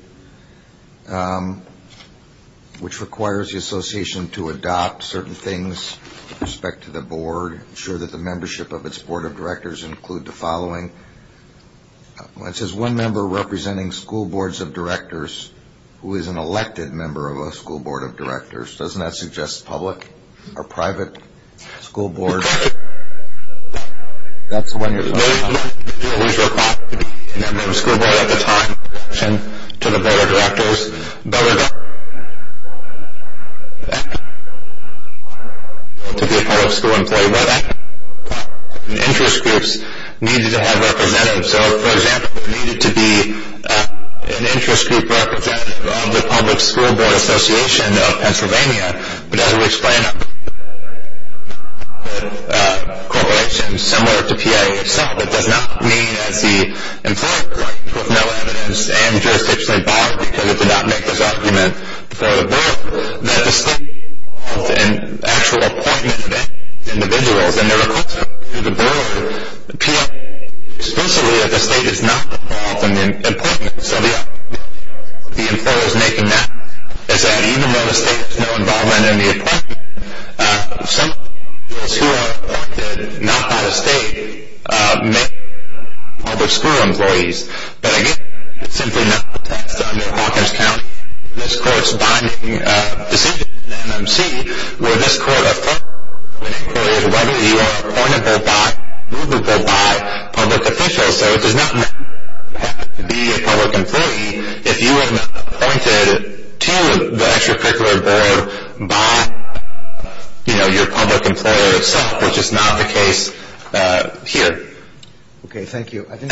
which requires the association to adopt certain things with respect to the board, ensure that the membership of its board of directors include the following. It says one member representing school boards of directors who is an elected member of a school board of directors. Doesn't that suggest public or private school boards? That's the one you're referring to. The member who is required to be a member of a school board at the time in relation to the board of directors, but to be a public school employee by that time. Interest groups needed to have representatives. So, for example, there needed to be an interest group representative of the Public School Board Association of Pennsylvania, but as we explain, this is not a correlation similar to PIA itself. It does not mean that the employer has no evidence and jurisdiction involved because it did not make this argument for the board, that the state is not involved in actual appointment of individuals, and there are consequences to the board appealing explicitly that the state is not involved in the appointment. So the employer is making that as an even though the state has no involvement in the appointment, some schools who are appointed not by the state may be public school employees, but again, it's simply not the case that in Hawkins County, this court's binding decision in the MMC where this court affirmed and inquired whether you are appointable by, movable by, public officials. So it does not mean that you happen to be a public employee if you were appointed to the extracurricular board by, you know, your public employer itself, which is not the case here. Okay, thank you. I think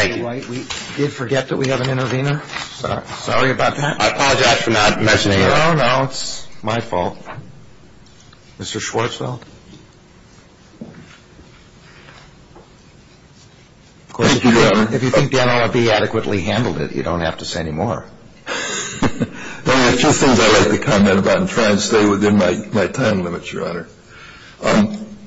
we did forget that we have an intervener. Sorry about that. I apologize for not mentioning it. No, no, it's my fault. Mr. Schwartzfeld? Thank you, Your Honor. If you think the NLRB adequately handled it, you don't have to say any more. There are a few things I'd like to comment about and try and stay within my time limit, Your Honor.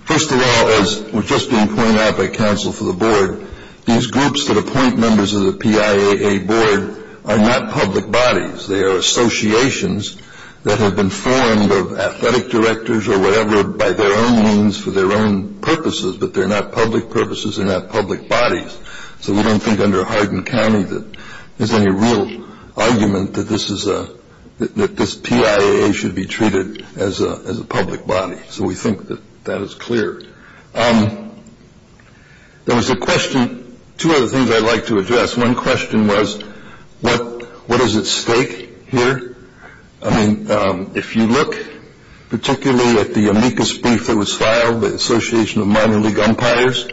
First of all, as was just being pointed out by counsel for the board, these groups that appoint members of the PIAA board are not public bodies. They are associations that have been formed of athletic directors or whatever by their own means for their own purposes, but they're not public purposes, they're not public bodies. So we don't think under Hardin County that there's any real argument that this PIAA should be treated as a public body. So we think that that is clear. There was a question, two other things I'd like to address. One question was what is at stake here? I mean, if you look particularly at the amicus brief that was filed, the Association of Minor League Umpires,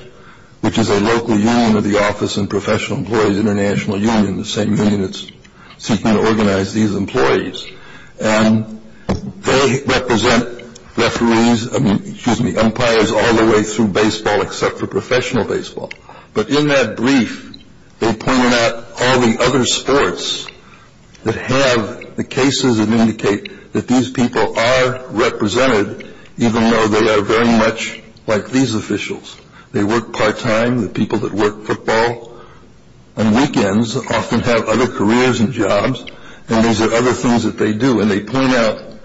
which is a local union of the Office and Professional Employees International Union, the same union that's seeking to organize these employees, and they represent referees, I mean, excuse me, umpires all the way through baseball except for professional baseball. But in that brief, they pointed out all the other sports that have the cases that indicate that these people are represented, even though they are very much like these officials. They work part-time, the people that work football on weekends often have other careers and jobs, and these are other things that they do. And they point out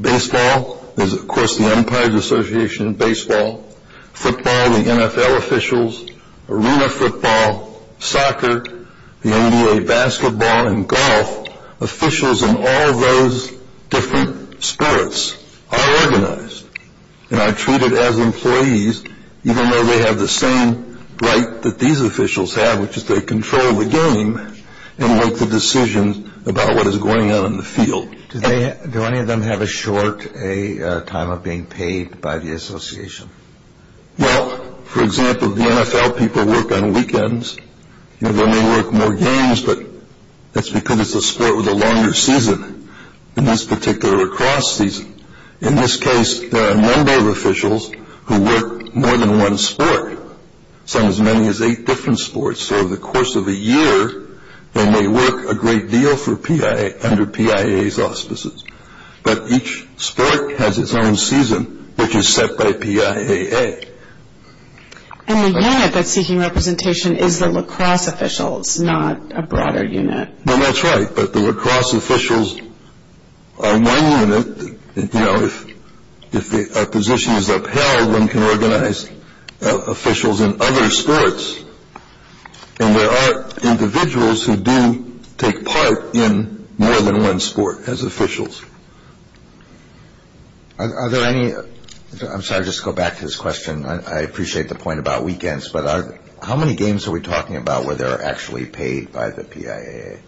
baseball. There's, of course, the Umpires Association of Baseball. Football, the NFL officials, arena football, soccer, the NBA, basketball, and golf, officials in all those different spirits are organized and are treated as employees, even though they have the same right that these officials have, which is they control the game and make the decisions about what is going on in the field. Do any of them have a short time of being paid by the association? Well, for example, the NFL people work on weekends. They may work more games, but that's because it's a sport with a longer season, in this particular lacrosse season. In this case, there are a number of officials who work more than one sport, some as many as eight different sports. So over the course of a year, they may work a great deal under PIA's auspices. But each sport has its own season, which is set by PIAA. And the unit that's seeking representation is the lacrosse officials, not a broader unit. Well, that's right, but the lacrosse officials are one unit. If a position is upheld, one can organize officials in other sports. And there are individuals who do take part in more than one sport as officials. Are there any – I'm sorry, just to go back to this question. I appreciate the point about weekends, but how many games are we talking about where they're actually paid by the PIAA?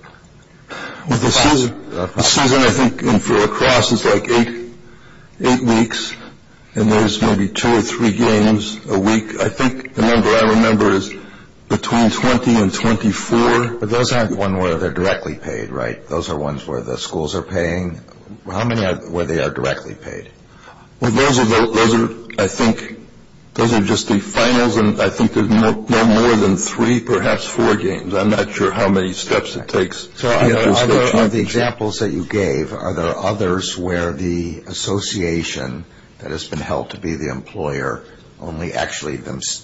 The season, I think, in lacrosse is like eight weeks, and there's maybe two or three games a week. I think the number I remember is between 20 and 24. But those aren't the ones where they're directly paid, right? Those are ones where the schools are paying. How many are where they are directly paid? Well, those are, I think, those are just the finals, and I think there's no more than three, perhaps four games. I'm not sure how many steps it takes. One of the examples that you gave, are there others where the association that has been held to be the employer only actually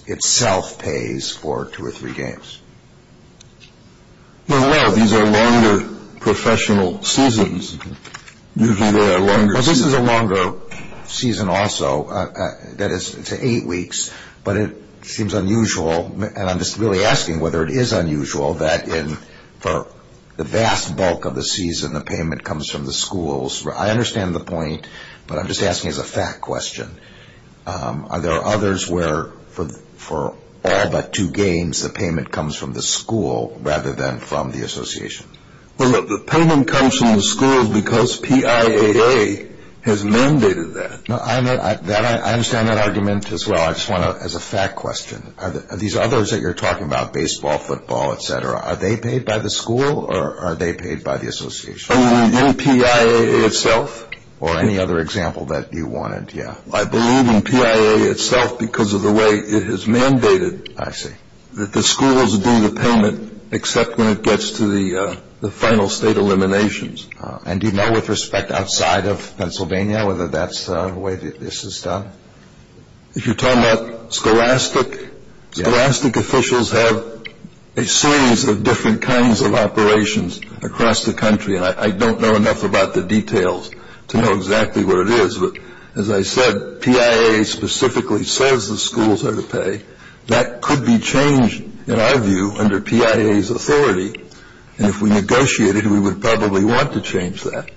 itself pays for two or three games? Well, these are longer professional seasons. Usually they are longer. Well, this is a longer season also. That is, it's eight weeks, but it seems unusual, and I'm just really asking whether it is unusual, that for the vast bulk of the season the payment comes from the schools. I understand the point, but I'm just asking as a fact question. Are there others where for all but two games the payment comes from the school rather than from the association? The payment comes from the school because PIAA has mandated that. I understand that argument as well. I just want to, as a fact question, are these others that you're talking about, baseball, football, et cetera, are they paid by the school or are they paid by the association? In PIAA itself. Or any other example that you wanted, yeah. I believe in PIAA itself because of the way it has mandated that the schools do the payment except when it gets to the final state eliminations. And do you know with respect outside of Pennsylvania whether that's the way this is done? If you're talking about scholastic, scholastic officials have a series of different kinds of operations across the country, and I don't know enough about the details to know exactly what it is. But as I said, PIAA specifically says the schools are to pay. That could be changed, in our view, under PIAA's authority, and if we negotiated we would probably want to change that.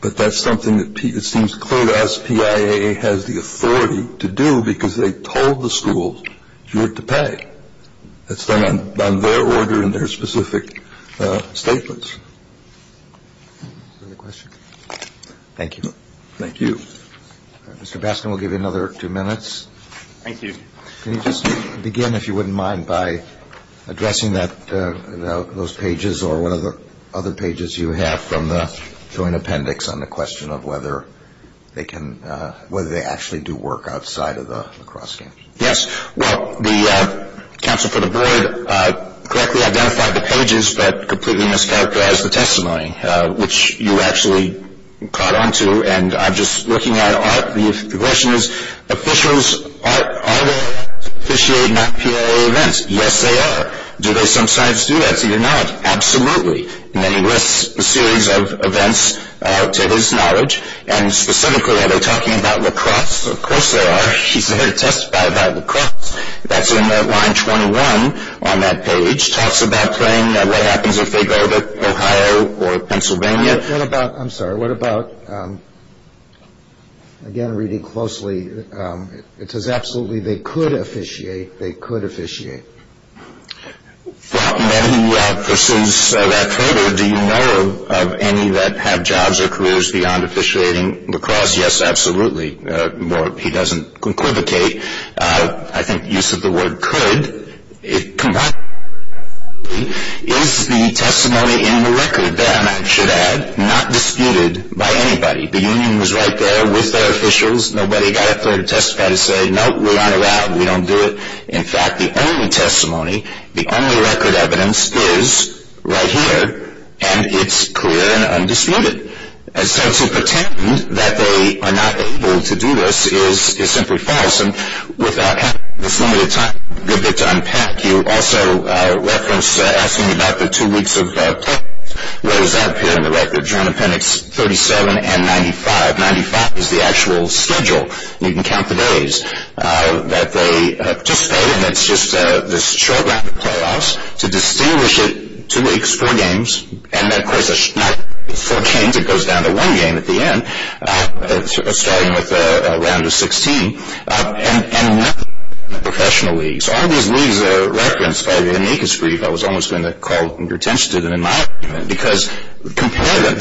But that's something that seems clear to us. PIAA has the authority to do because they told the schools you're to pay. That's done on their order and their specific statements. Is there another question? Thank you. Thank you. Mr. Baskin, we'll give you another two minutes. Thank you. Can you just begin, if you wouldn't mind, by addressing those pages or what other pages you have from the joint appendix on the question of whether they actually do work outside of the lacrosse game? Yes. Well, the counsel for the board correctly identified the pages but completely mischaracterized the testimony, which you actually caught on to. And I'm just looking at Art. The question is, officials, are they officiating PIAA events? Yes, they are. Do they sometimes do that? See, they're not. Absolutely. And then he lists a series of events, to his knowledge, and specifically are they talking about lacrosse? Of course they are. He's there to testify about lacrosse. That's in line 21 on that page. Talks about playing, what happens if they go to Ohio or Pennsylvania. What about, I'm sorry, what about, again reading closely, it says absolutely they could officiate, they could officiate. For how many persons that further, do you know of any that have jobs or careers beyond officiating lacrosse? Yes, absolutely. He doesn't equivocate. I think use of the word could, it combines the two. Is the testimony in the record then, I should add, not disputed by anybody? The union was right there with their officials. Nobody got up there to testify to say, nope, we're not allowed, we don't do it. In fact, the only testimony, the only record evidence is right here, and it's clear and undisputed. So to pretend that they are not able to do this is simply false. And without having this limited time, a good bit to unpack, you also referenced asking about the two weeks of playoffs. What does that appear in the record? John Appendix 37 and 95. 95 is the actual schedule, and you can count the days that they participate in. It's just this short round of playoffs. To distinguish it, two weeks, four games, and then, of course, not four games, it goes down to one game at the end, starting with a round of 16. And professional leagues. All these leagues are referenced by the amicus brief. I was almost going to call your attention to them in my argument, because compare them.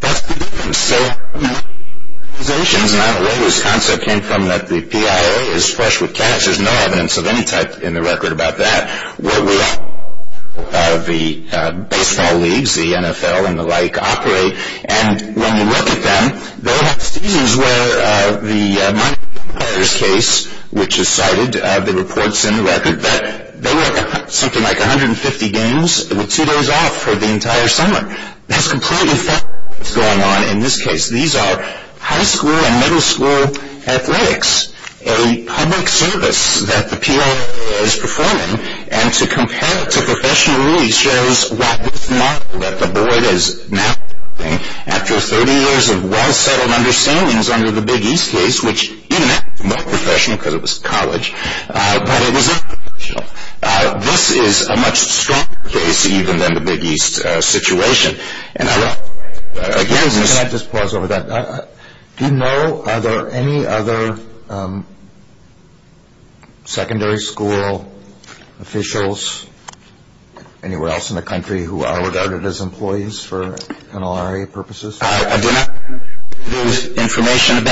That's the difference. So organizations, and I don't know where this concept came from, that the PIA is fresh with cash. There's no evidence of any type in the record about that. Where we are, the baseball leagues, the NFL, and the like, operate. And when we look at them, they have seasons where the Mike Myers case, which is cited, the report's in the record, that they work something like 150 games, with two days off for the entire summer. That's completely false. What's going on in this case? These are high school and middle school athletics, a public service that the PIA is performing. And to compare it to professional leagues shows what it's not, that the board is mapping after 30 years of well-settled understandings under the Big East case, which even that's more professional because it was college, but it was international. This is a much stronger case, even, than the Big East situation. Can I just pause over that? Do you know, are there any other secondary school officials anywhere else in the country who are regarded as employees for NLRA purposes? I do not have the information.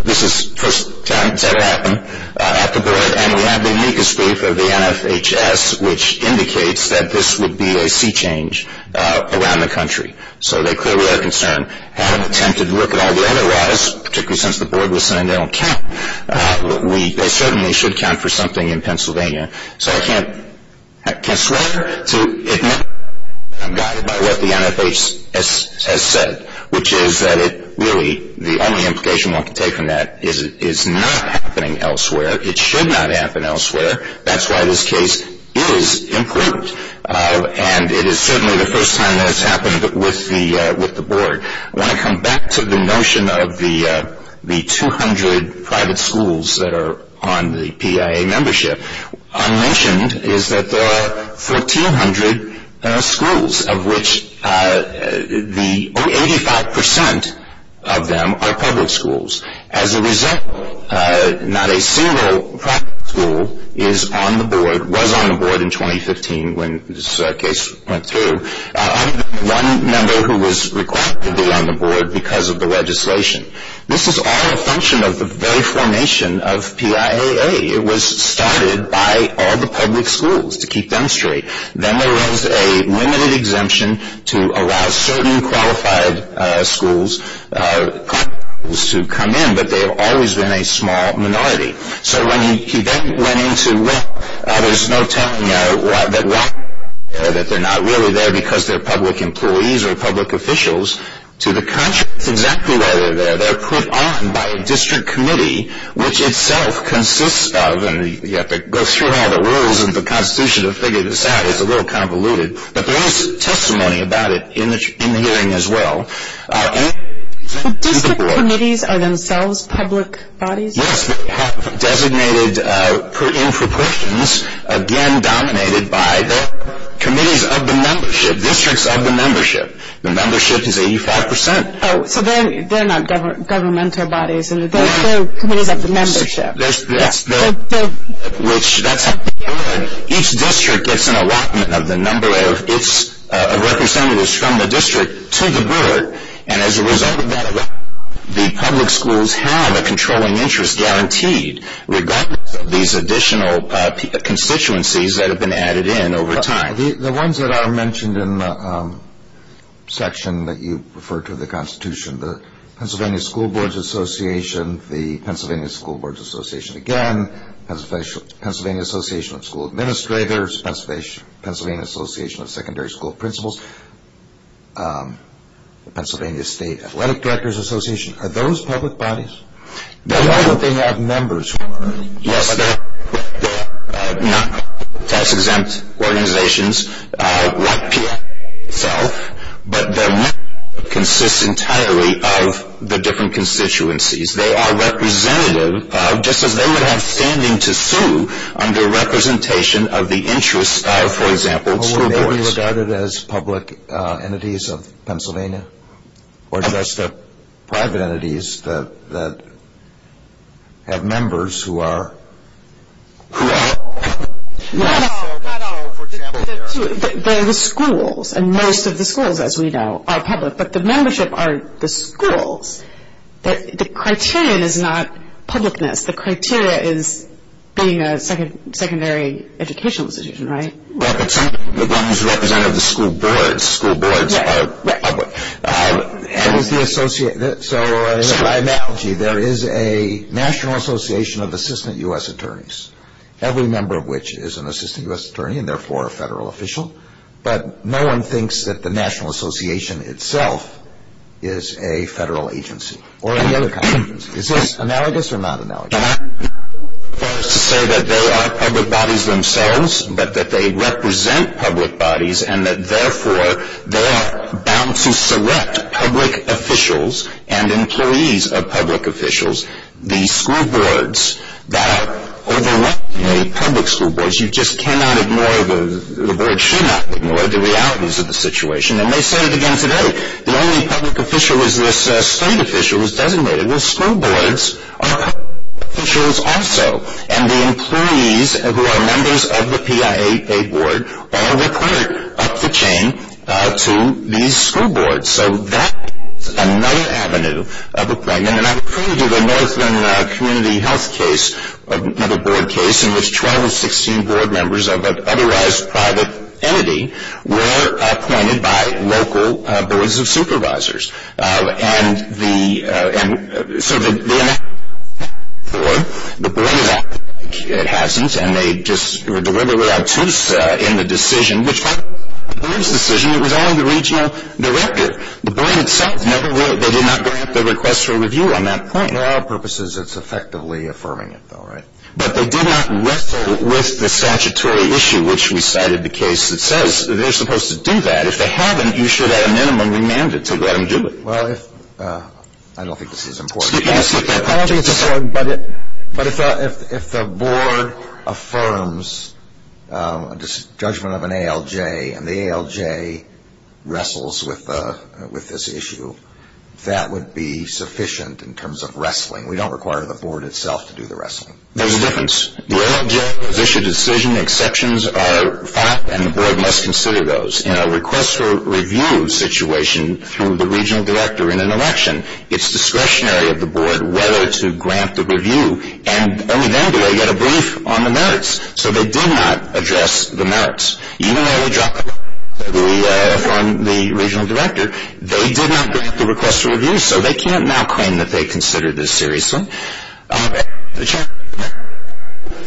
This is the first time it's ever happened. And we have the amicus brief of the NFHS, which indicates that this would be a sea change around the country. So they clearly are concerned. Had I attempted to look at all the other laws, particularly since the board was saying they don't count, they certainly should count for something in Pennsylvania. So I can't swear to admit that I'm guided by what the NFHS has said, which is that it really, the only implication I can take from that is it's not happening elsewhere. It should not happen elsewhere. That's why this case is important. And it is certainly the first time that it's happened with the board. I want to come back to the notion of the 200 private schools that are on the PIA membership. Unmentioned is that there are 1,400 schools, of which 85% of them are public schools. As a result, not a single private school is on the board, was on the board in 2015 when this case went through. I'm the one member who was required to be on the board because of the legislation. This is all a function of the very formation of PIAA. It was started by all the public schools, to keep them straight. Then there was a limited exemption to allow certain qualified schools to come in, but they have always been a small minority. So when he then went into law, there's no telling that they're not really there because they're public employees or public officials. To the contrary, that's exactly why they're there. They're put on by a district committee, which itself consists of, and you have to go through all the rules of the Constitution to figure this out. It's a little convoluted. But there is testimony about it in the hearing as well. District committees are themselves public bodies? Yes, designated in proportions, again dominated by the committees of the membership, districts of the membership. The membership is 85%. Oh, so they're not governmental bodies. They're committees of the membership. Yes. Each district gets an allotment of the number of representatives from the district to the board, and as a result of that allotment, the public schools have a controlling interest guaranteed, regardless of these additional constituencies that have been added in over time. The ones that are mentioned in the section that you refer to the Constitution, the Pennsylvania School Boards Association, the Pennsylvania School Boards Association again, Pennsylvania Association of School Administrators, Pennsylvania Association of Secondary School Principals, Pennsylvania State Athletic Directors Association, are those public bodies? Why don't they have members? Yes, they're not tax-exempt organizations like PSA itself, but their membership consists entirely of the different constituencies. They are representative, just as they would have standing to sue, under representation of the interests of, for example, school boards. Are they regarded as public entities of Pennsylvania, or just private entities that have members who are? They're the schools, and most of the schools, as we know, are public, but the membership are the schools. The criteria is not publicness. The criteria is being a secondary educational institution, right? The ones represented are the school boards. School boards are public. So, by analogy, there is a National Association of Assistant U.S. Attorneys, every member of which is an Assistant U.S. Attorney and, therefore, a federal official, but no one thinks that the National Association itself is a federal agency or any other kind of agency. Is this analogous or not analogous? First to say that they are public bodies themselves, but that they represent public bodies and that, therefore, they are bound to select public officials and employees of public officials. The school boards that are overrun by public school boards, you just cannot ignore the board should not ignore the realities of the situation, and they say it again today. The only public official is this state official who is designated. The school boards are public officials also, and the employees who are members of the PIAA board are required up the chain to these school boards. So that is another avenue of employment, and I'm referring to the Northland Community Health case, another board case, in which 12 of 16 board members of an otherwise private entity were appointed by local boards of supervisors. And the sort of the board, it hasn't, and they just were deliberately obtuse in the decision, which was only the regional director. The board itself never, they did not grant the request for review on that point. For our purposes, it's effectively affirming it, though, right? But they did not wrestle with the statutory issue, which we cited the case that says they're supposed to do that. If they haven't, you should, at a minimum, remand it to let them do it. Well, if, I don't think this is important. I don't think it's important, but if the board affirms a judgment of an ALJ, and the ALJ wrestles with this issue, that would be sufficient in terms of wrestling. We don't require the board itself to do the wrestling. There's a difference. The ALJ has issued a decision, exceptions are a fact, and the board must consider those. In a request for review situation through the regional director in an election, it's discretionary of the board whether to grant the review. And only then do they get a brief on the merits. So they did not address the merits. Even though they dropped it off from the regional director, they did not grant the request for review, so they can't now claim that they considered this seriously.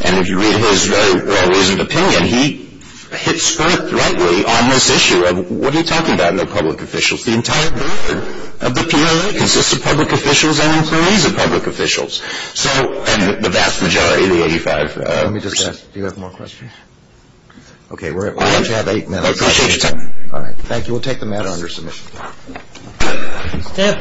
And if you read his very well-reasoned opinion, he hit spurt rightly on this issue of, what are you talking about, no public officials? The entire board of the POA consists of public officials and employees of public officials. So, and the vast majority of the 85%. Let me just ask, do you have more questions? Okay, why don't you have eight minutes? I appreciate your time. All right, thank you. We'll take the matter under submission.